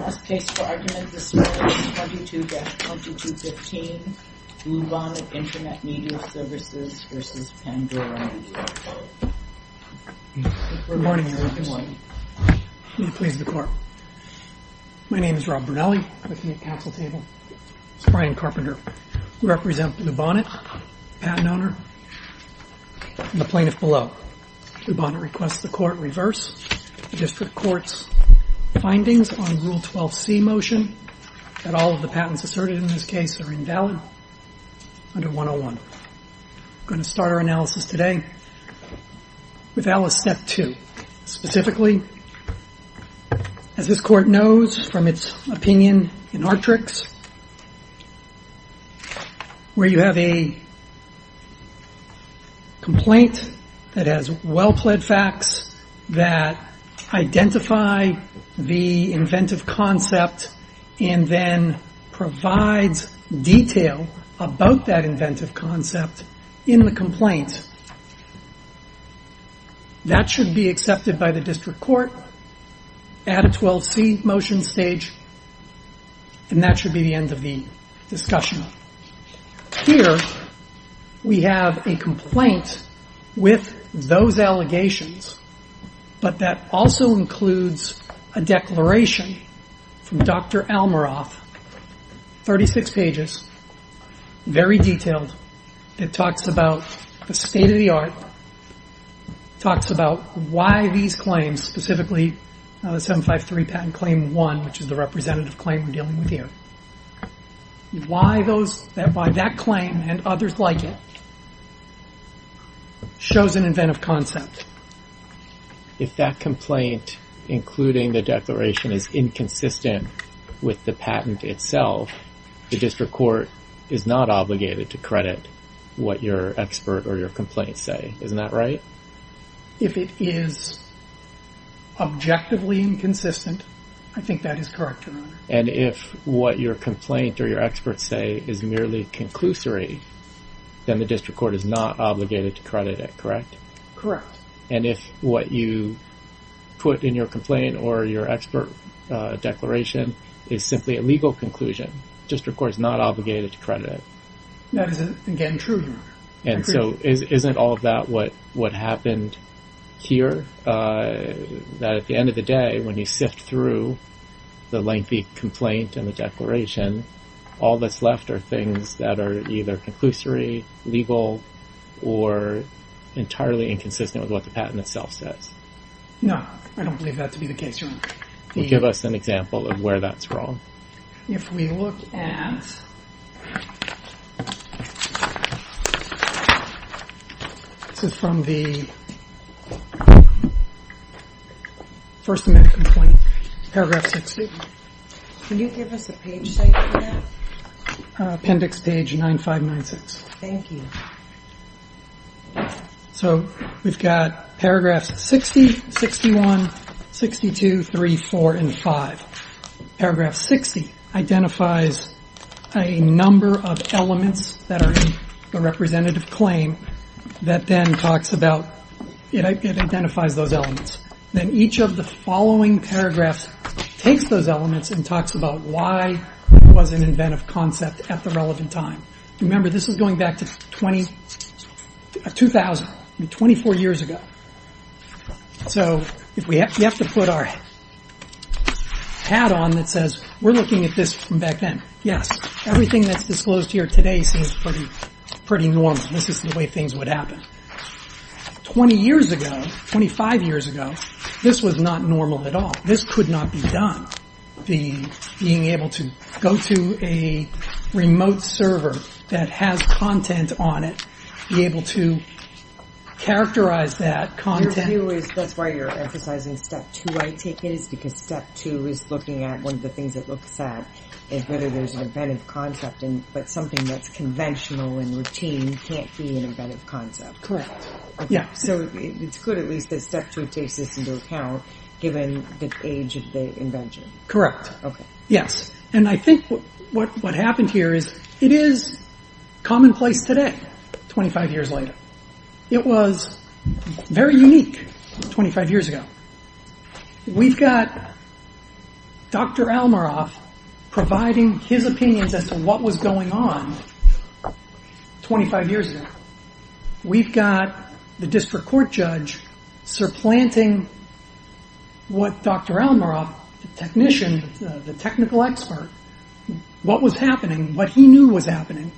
Last case for argument this morning is 22-2215 Lubbonnet Internet Media Services v. Pandora Media, LLC Good morning, Your Honor. May it please the Court. My name is Rob Bernelli. I'm with the counsel table. This is Brian Carpenter. I represent Lubbonnet, the patent owner, and the plaintiff below. Lubbonnet requests the Court reverse the District Court's findings on Rule 12c motion that all of the patents asserted in this case are invalid under 101. We're going to start our analysis today with Alice Step 2. Specifically, as this Court knows from its opinion in Artrix, where you have a complaint that has well-plaid facts that identify the inventive concept and then provides detail about that inventive concept in the complaint, that should be accepted by the District Court at a 12c motion stage, and that should be the end of the discussion. Here we have a complaint with those allegations, but that also includes a declaration from Dr. Almaroff, 36 pages, very detailed. It talks about the state of the art, talks about why these claims, specifically 753 patent claim 1, which is the representative claim we're dealing with here, why that claim and others like it shows an inventive concept. If that complaint, including the declaration, is inconsistent with the patent itself, the District Court is not obligated to credit what your expert or your complaint say. Isn't that right? If it is objectively inconsistent, I think that is correct, Your Honor. And if what your complaint or your experts say is merely conclusory, then the District Court is not obligated to credit it, correct? Correct. And if what you put in your complaint or your expert declaration is simply a legal conclusion, the District Court is not obligated to credit it? That is, again, true, Your Honor. And so isn't all of that what happened here? That at the end of the day, when you sift through the lengthy complaint and the declaration, all that's left are things that are either conclusory, legal, or entirely inconsistent with what the patent itself says. No, I don't believe that to be the case, Your Honor. Give us an example of where that's wrong. If we look at, this is from the first amendment complaint, paragraph 62. Can you give us a page size for that? Appendix page 9596. Thank you. So we've got paragraphs 60, 61, 62, 3, 4, and 5. Paragraph 60 identifies a number of elements that are in the representative claim that then talks about, it identifies those elements. Then each of the following paragraphs takes those elements and talks about why it was an inventive concept at the relevant time. Remember, this is going back to 2000, 24 years ago. So we have to put our hat on that says we're looking at this from back then. Yes, everything that's disclosed here today seems pretty normal. This is the way things would happen. Twenty years ago, 25 years ago, this was not normal at all. This could not be done, being able to go to a remote server that has content on it, be able to characterize that content. Your view is that's why you're emphasizing step two, I take it, is because step two is looking at one of the things it looks at is whether there's an inventive concept, but something that's conventional and routine can't be an inventive concept. Correct. So it's good at least that step two takes this into account, given the age of the invention. Correct. Yes. And I think what happened here is it is commonplace today, 25 years later. It was very unique 25 years ago. We've got Dr. Almaroff providing his opinions as to what was going on 25 years ago. We've got the district court judge supplanting what Dr. Almaroff, the technician, the technical expert, what was happening, what he knew was happening,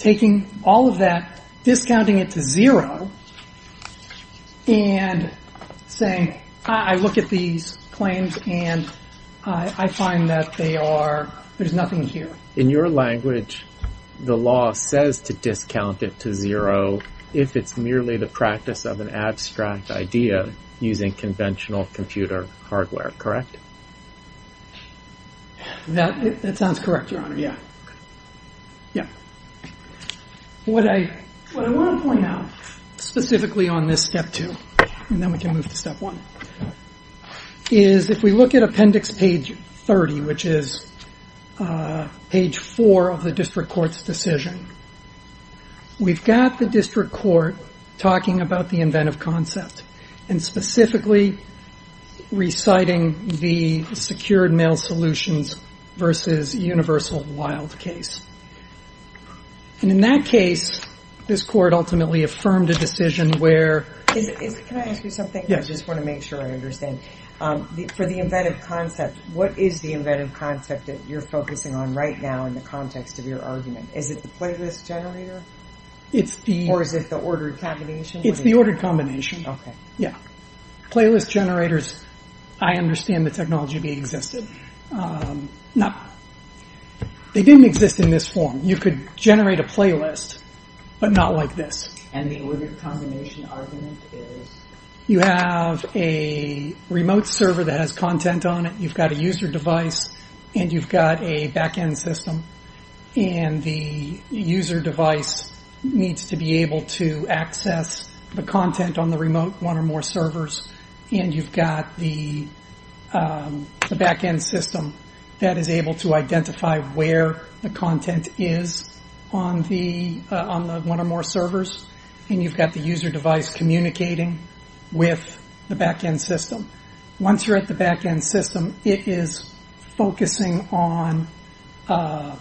taking all of that, discounting it to zero, and saying, I look at these claims and I find that they are, there's nothing here. In your language, the law says to discount it to zero if it's merely the practice of an abstract idea using conventional computer hardware. Correct? That sounds correct, Your Honor. Yeah. Yeah. What I want to point out, specifically on this step two, and then we can move to step one, is if we look at appendix page 30, which is page four of the district court's decision, we've got the district court talking about the inventive concept and specifically reciting the secured mail solutions versus universal wild case. And in that case, this court ultimately affirmed a decision where… Can I ask you something? Yes. I just want to make sure I understand. For the inventive concept, what is the inventive concept that you're focusing on right now in the context of your argument? Is it the playlist generator? Or is it the ordered combination? It's the ordered combination. Okay. Yeah. Playlist generators, I understand the technology being existed. They didn't exist in this form. You could generate a playlist, but not like this. And the ordered combination argument is? You have a remote server that has content on it, you've got a user device, and you've got a back-end system. And the user device needs to be able to access the content on the remote one or more servers. And you've got the back-end system that is able to identify where the content is on the one or more servers. And you've got the user device communicating with the back-end system. Once you're at the back-end system, it is focusing on a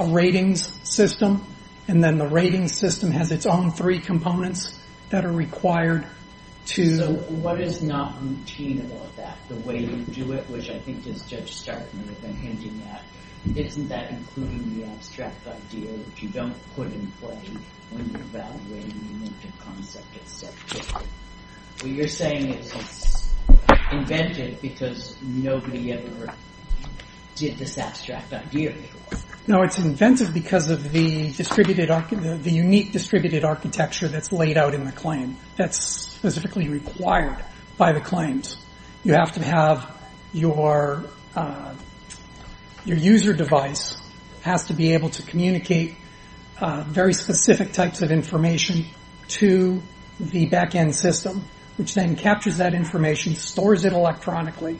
ratings system. And then the ratings system has its own three components that are required to… So what is not routine about that? The way you do it, which I think Judge Stark may have been hinting at, isn't that including the abstract idea that you don't put in play when you're evaluating an inventive concept? You're saying it's inventive because nobody ever did this abstract idea before. No, it's inventive because of the unique distributed architecture that's laid out in the claim. That's specifically required by the claims. You have to have your user device has to be able to communicate very specific types of information to the back-end system, which then captures that information, stores it electronically,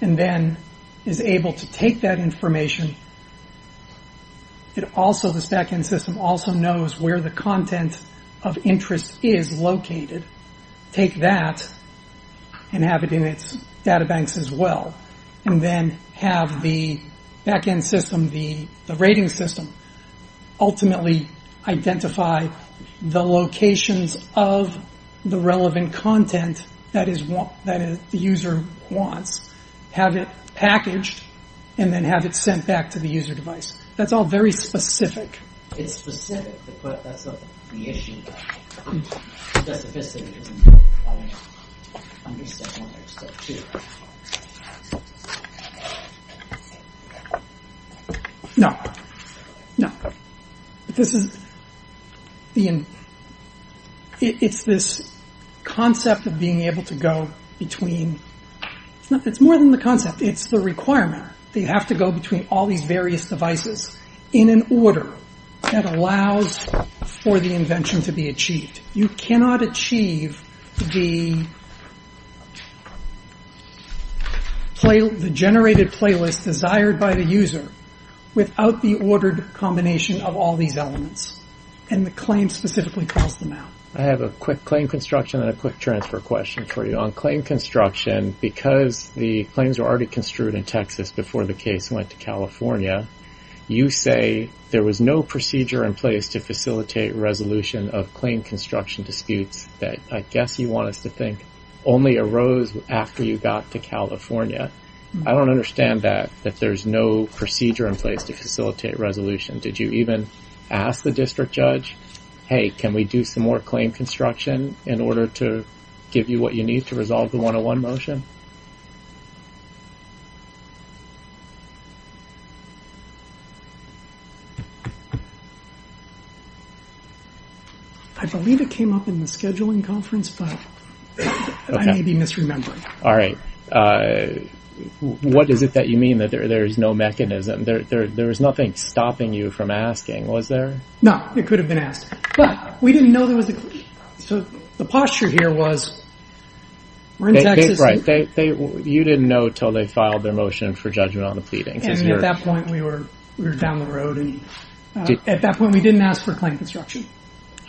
and then is able to take that information. This back-end system also knows where the content of interest is located. Take that and have it in its databanks as well, and then have the back-end system, the ratings system, ultimately identify the locations of the relevant content that the user wants, have it packaged, and then have it sent back to the user device. That's all very specific. It's specific, but that's not the issue. The specificity isn't there. I understand one other step, too. No. No. This is... It's this concept of being able to go between... It's more than the concept. It's the requirement that you have to go between all these various devices in an order that allows for the invention to be achieved. You cannot achieve the generated playlist desired by the user without the ordered combination of all these elements, and the claim specifically calls them out. I have a quick claim construction and a quick transfer question for you. On claim construction, because the claims were already construed in Texas before the case went to California, you say there was no procedure in place to facilitate resolution of claim construction disputes that I guess you want us to think only arose after you got to California. I don't understand that, that there's no procedure in place to facilitate resolution. Did you even ask the district judge, hey, can we do some more claim construction in order to give you what you need to resolve the 101 motion? I believe it came up in the scheduling conference, but I may be misremembering. All right. What is it that you mean that there is no mechanism? There was nothing stopping you from asking, was there? No, it could have been asked. But we didn't know there was a claim. So the posture here was we're in Texas. Right. You didn't know until they filed their motion for judgment on the pleading. At that point, we were down the road. At that point, we didn't ask for claim construction.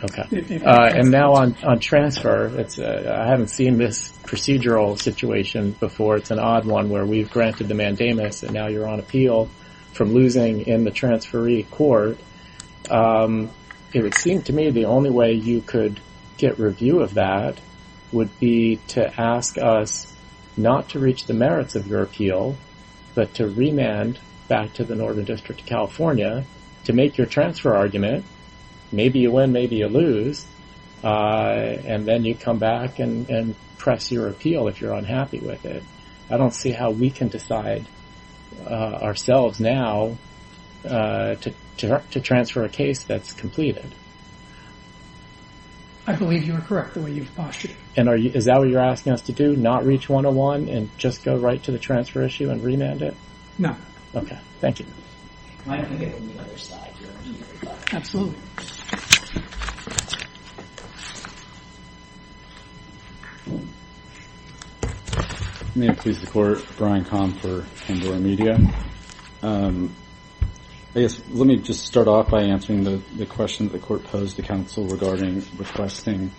Okay. And now on transfer, I haven't seen this procedural situation before. It's an odd one where we've granted the mandamus and now you're on appeal from losing in the transferee court. It would seem to me the only way you could get review of that would be to ask us not to reach the merits of your appeal, but to remand back to the Northern District of California to make your transfer argument. Maybe you win, maybe you lose, and then you come back and press your appeal if you're unhappy with it. I don't see how we can decide ourselves now to transfer a case that's completed. I believe you are correct in the way you've postulated. And is that what you're asking us to do, not reach 101 and just go right to the transfer issue and remand it? No. Okay. Thank you. Am I going to get on the other side here? Absolutely. May it please the Court. Brian Kahn for Pandora Media. Let me just start off by answering the question that the Court posed to counsel regarding requesting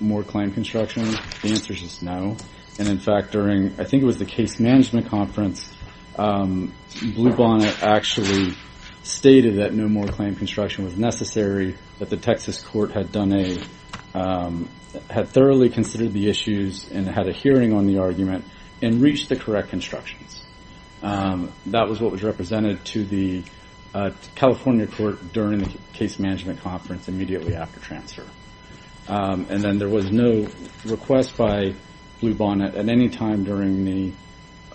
more claim construction. The answer is just no. And, in fact, during I think it was the case management conference, Blue Bonnet actually stated that no more claim construction was necessary, that the Texas court had thoroughly considered the issues and had a hearing on the argument and reached the correct constructions. That was what was represented to the California court during the case management conference immediately after transfer. And then there was no request by Blue Bonnet at any time during the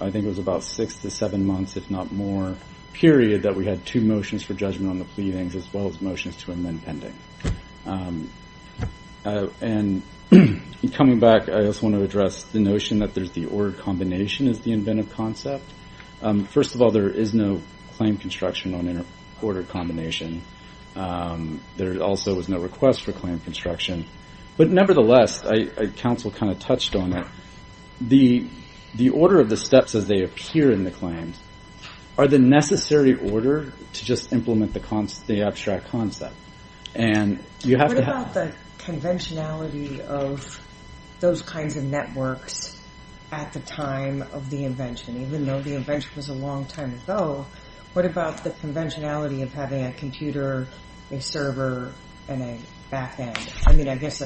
I think it was about six to seven months, if not more, period, that we had two motions for judgment on the pleadings as well as motions to amend pending. And coming back, I just want to address the notion that there's the ordered combination as the inventive concept. First of all, there is no claim construction on an ordered combination. There also was no request for claim construction. But, nevertheless, counsel kind of touched on it. The order of the steps as they appear in the claims are the necessary order to just implement the abstract concept. And you have to have- What about the conventionality of those kinds of networks at the time of the invention? Even though the invention was a long time ago, what about the conventionality of having a computer, a server, and a back end? I mean, I guess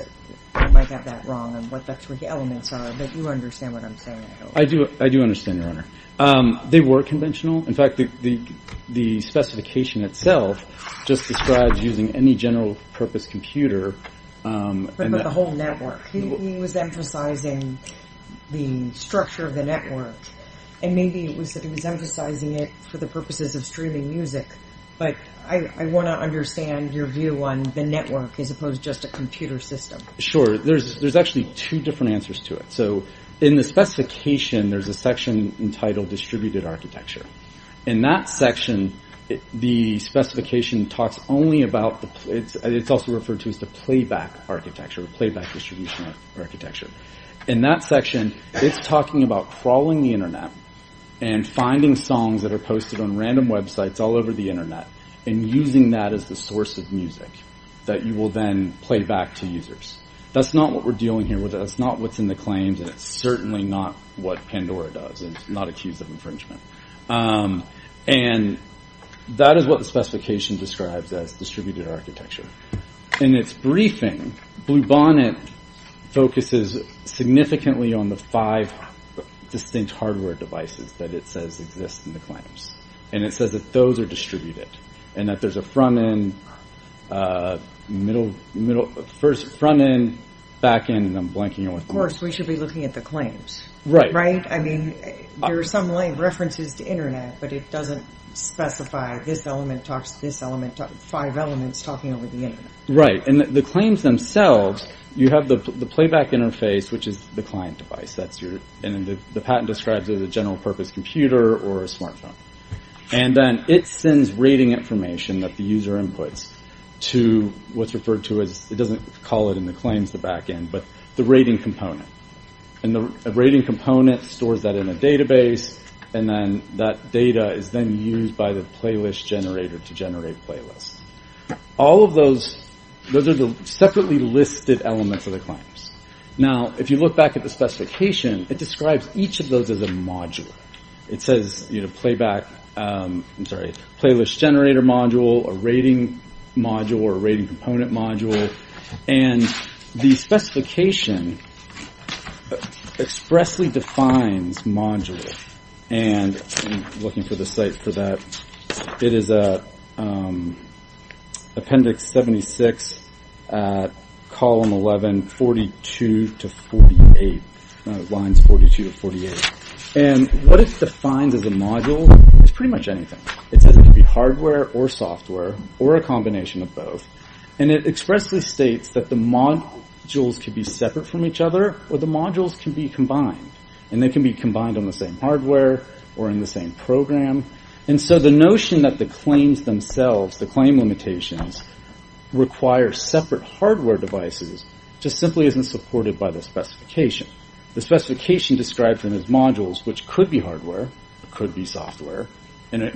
I might have that wrong on what the elements are, but you understand what I'm saying. I do understand, Your Honor. They were conventional. In fact, the specification itself just describes using any general purpose computer. But the whole network. He was emphasizing the structure of the network. And maybe it was that he was emphasizing it for the purposes of streaming music. But I want to understand your view on the network as opposed to just a computer system. Sure. There's actually two different answers to it. So in the specification, there's a section entitled distributed architecture. In that section, the specification talks only about- It's also referred to as the playback architecture, playback distribution architecture. In that section, it's talking about crawling the internet and finding songs that are posted on random websites all over the internet. And using that as the source of music that you will then play back to users. That's not what we're dealing here with. That's not what's in the claims. And it's certainly not what Pandora does. It's not accused of infringement. And that is what the specification describes as distributed architecture. In its briefing, Bluebonnet focuses significantly on the five distinct hardware devices that it says exist in the claims. And it says that those are distributed. And that there's a front end, middle- First front end, back end, and I'm blanking on- Of course, we should be looking at the claims. Right. Right? I mean, there are some references to internet, but it doesn't specify this element talks to this element. Five elements talking over the internet. Right. And the claims themselves, you have the playback interface, which is the client device. And the patent describes it as a general purpose computer or a smartphone. And then it sends rating information that the user inputs to what's referred to as- And the rating component stores that in a database. And then that data is then used by the playlist generator to generate playlists. All of those- Those are the separately listed elements of the claims. Now, if you look back at the specification, it describes each of those as a module. It says, you know, playback- I'm sorry. Playlist generator module, a rating module, or a rating component module. And the specification expressly defines module. And I'm looking for the site for that. It is appendix 76, column 11, 42 to 48. Lines 42 to 48. And what it defines as a module is pretty much anything. It says it can be hardware or software or a combination of both. And it expressly states that the modules can be separate from each other or the modules can be combined. And they can be combined on the same hardware or in the same program. And so the notion that the claims themselves, the claim limitations, require separate hardware devices, just simply isn't supported by the specification. The specification describes them as modules, which could be hardware, could be software. Would it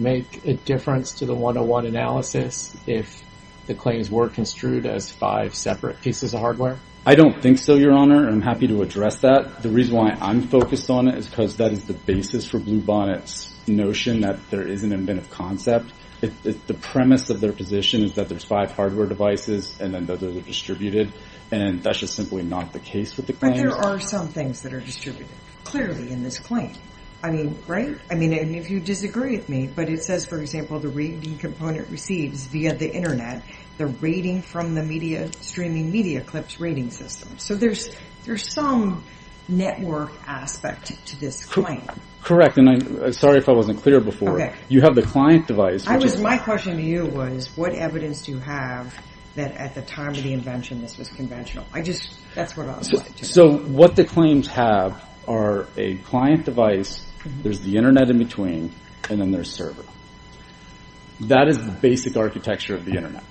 make a difference to the 101 analysis if the claims were construed as five separate pieces of hardware? I don't think so, Your Honor. I'm happy to address that. The reason why I'm focused on it is because that is the basis for Blue Bonnet's notion that there is an inventive concept. The premise of their position is that there's five hardware devices and then those are distributed. And that's just simply not the case with the claims. But there are some things that are distributed, clearly, in this claim. I mean, right? I mean, and if you disagree with me, but it says, for example, the rating component receives, via the Internet, the rating from the streaming media clip's rating system. So there's some network aspect to this claim. Correct. And I'm sorry if I wasn't clear before. Okay. You have the client device. My question to you was, what evidence do you have that at the time of the invention this was conventional? I just, that's what I was going to say. So what the claims have are a client device, there's the Internet in between, and then there's server. That is the basic architecture of the Internet.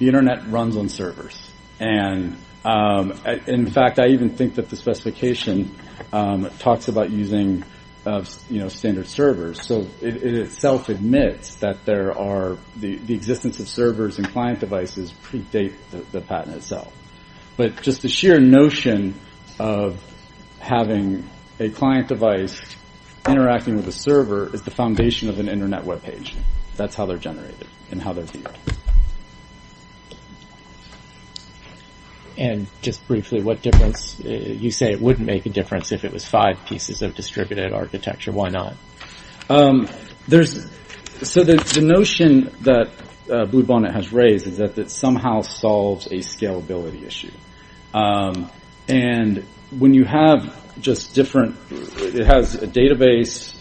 The Internet runs on servers. And, in fact, I even think that the specification talks about using, you know, standard servers. So it itself admits that there are, the existence of servers and client devices predate the patent itself. But just the sheer notion of having a client device interacting with a server is the foundation of an Internet web page. That's how they're generated and how they're viewed. And just briefly, what difference, you say it wouldn't make a difference if it was five pieces of distributed architecture. Why not? There's, so the notion that Bluebonnet has raised is that it somehow solves a scalability issue. And when you have just different, it has a database,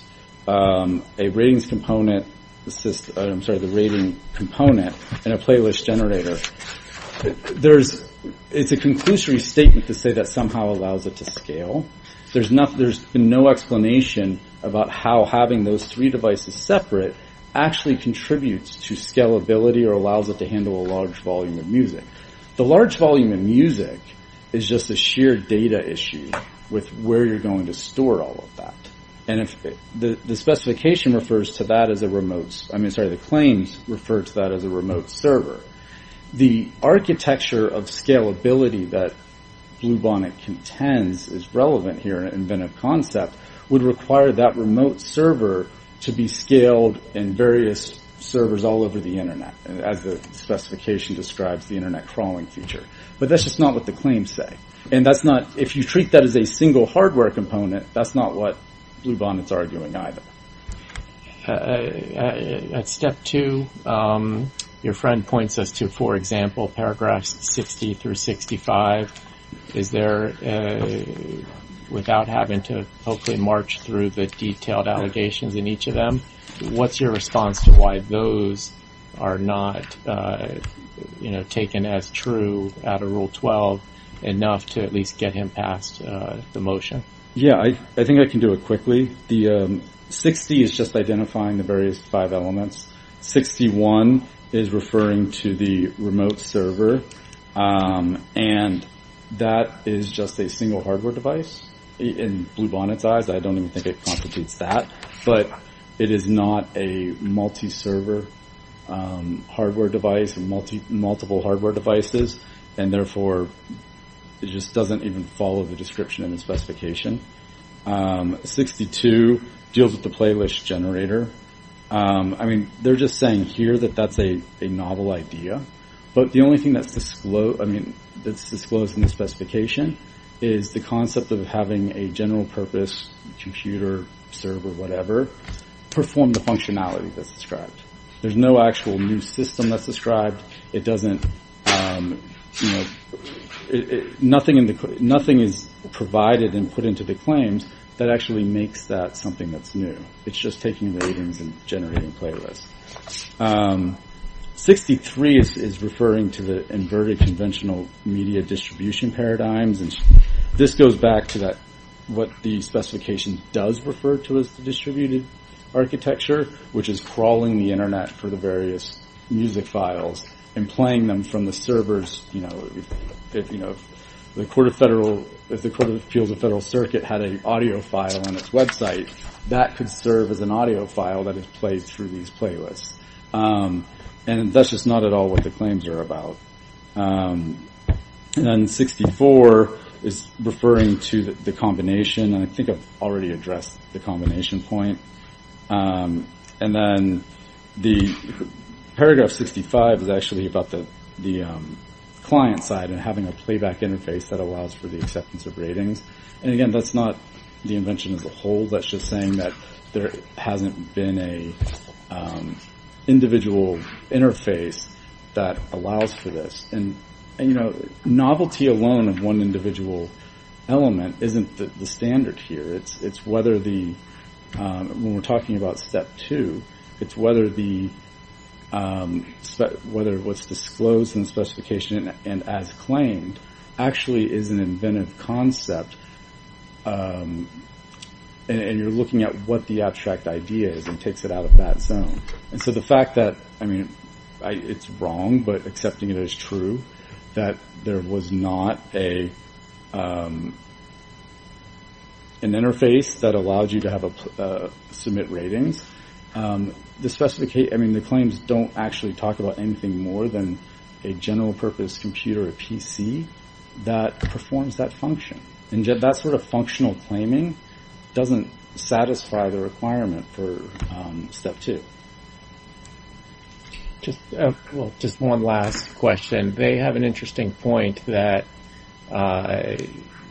a ratings component, I'm sorry, the rating component, and a playlist generator. There's, it's a conclusory statement to say that somehow allows it to scale. There's no explanation about how having those three devices separate actually contributes to scalability or allows it to handle a large volume of music. The large volume of music is just a sheer data issue with where you're going to store all of that. And if the specification refers to that as a remote, I mean, sorry, the claims refer to that as a remote server. The architecture of scalability that Bluebonnet contends is relevant here in Inventive Concept would require that remote server to be scaled in various servers all over the Internet. As the specification describes the Internet crawling feature. But that's just not what the claims say. And that's not, if you treat that as a single hardware component, that's not what Bluebonnet's arguing either. At step two, your friend points us to, for example, paragraphs 60 through 65. Is there, without having to hopefully march through the detailed allegations in each of them, what's your response to why those are not taken as true out of Rule 12 enough to at least get him past the motion? Yeah, I think I can do it quickly. The 60 is just identifying the various five elements. 61 is referring to the remote server. And that is just a single hardware device. In Bluebonnet's eyes, I don't even think it constitutes that. But it is not a multi-server hardware device, multiple hardware devices. And therefore, it just doesn't even follow the description in the specification. 62 deals with the playlist generator. I mean, they're just saying here that that's a novel idea. But the only thing that's disclosed in the specification is the concept of having a general purpose computer, server, whatever, perform the functionality that's described. There's no actual new system that's described. Nothing is provided and put into the claims that actually makes that something that's new. It's just taking ratings and generating playlists. 63 is referring to the inverted conventional media distribution paradigms. This goes back to what the specification does refer to as the distributed architecture, which is crawling the Internet for the various music files and playing them from the servers. If the Court of Appeals of Federal Circuit had an audio file on its website, that could serve as an audio file that is played through these playlists. And that's just not at all what the claims are about. And then 64 is referring to the combination. And I think I've already addressed the combination point. And then the paragraph 65 is actually about the client side and having a playback interface that allows for the acceptance of ratings. And again, that's not the invention as a whole. That's just saying that there hasn't been an individual interface that allows for this. And novelty alone of one individual element isn't the standard here. When we're talking about step two, it's whether what's disclosed in the specification and as claimed actually is an inventive concept. And you're looking at what the abstract idea is and takes it out of that zone. And so the fact that it's wrong, but accepting it as true, that there was not an interface that allowed you to submit ratings, the claims don't actually talk about anything more than a general purpose computer or PC that performs that function. And that sort of functional claiming doesn't satisfy the requirement for step two. Just one last question. They have an interesting point that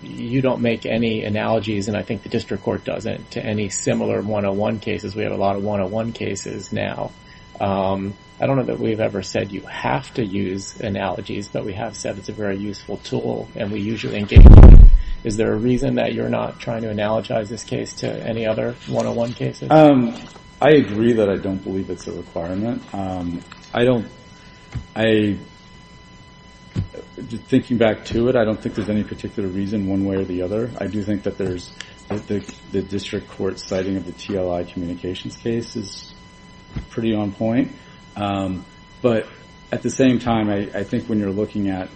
you don't make any analogies, and I think the district court doesn't, to any similar 101 cases. We have a lot of 101 cases now. I don't know that we've ever said you have to use analogies, but we have said it's a very useful tool. And we usually engage with it. Is there a reason that you're not trying to analogize this case to any other 101 cases? I agree that I don't believe it's a requirement. Thinking back to it, I don't think there's any particular reason one way or the other. I do think that the district court's citing of the TLI communications case is pretty on point. But at the same time, I think when you're looking at,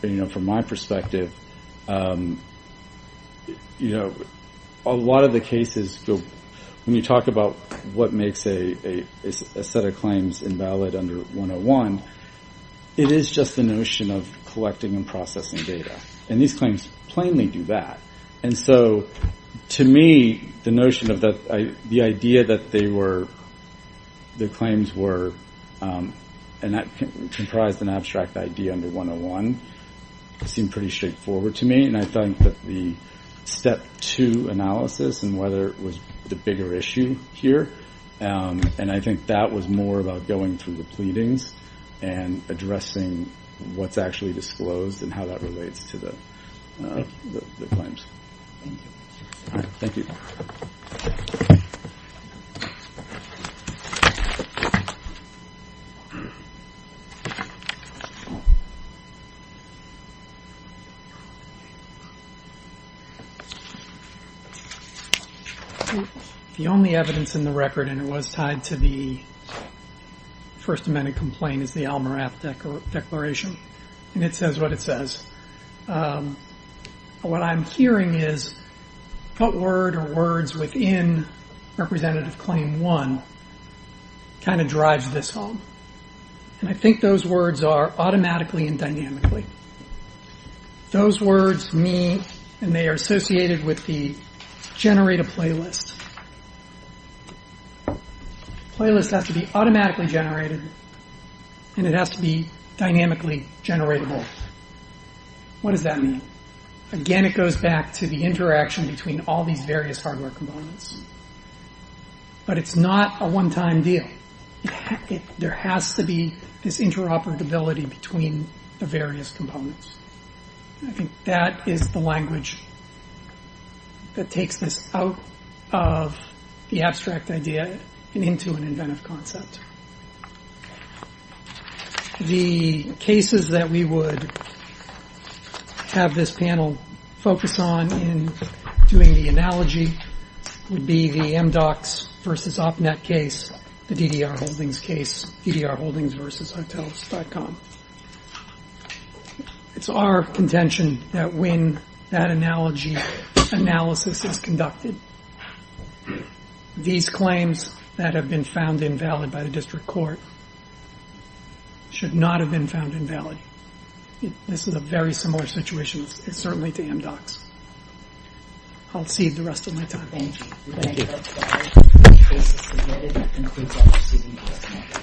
from my perspective, a lot of the cases, when you talk about what makes a set of claims invalid under 101, it is just the notion of collecting and processing data. And these claims plainly do that. And so, to me, the notion of that, the idea that they were, the claims were, and that comprised an abstract idea under 101, seemed pretty straightforward to me. And I thought that the step two analysis and whether it was the bigger issue here, and I think that was more about going through the pleadings and addressing what's actually disclosed and how that relates to the claims. Thank you. Thank you. Thank you. The only evidence in the record, and it was tied to the First Amendment complaint, is the Al Morath Declaration. And it says what it says. What I'm hearing is what word or words within Representative Claim 1 kind of drives this home. And I think those words are automatically and dynamically. Those words mean, and they are associated with the generate a playlist. Playlist has to be automatically generated and it has to be dynamically generatable. What does that mean? Again, it goes back to the interaction between all these various hardware components. But it's not a one-time deal. There has to be this interoperability between the various components. I think that is the language that takes this out of the abstract idea and into an inventive concept. The cases that we would have this panel focus on in doing the analogy would be the MDOCS versus OpNet case, the DDR Holdings case, DDR Holdings versus Hotels.com. It's our contention that when that analogy analysis is conducted, these claims that have been found invalid by the district court should not have been found invalid. This is a very similar situation certainly to MDOCS. I'll cede the rest of my time. Thank you. Thank you.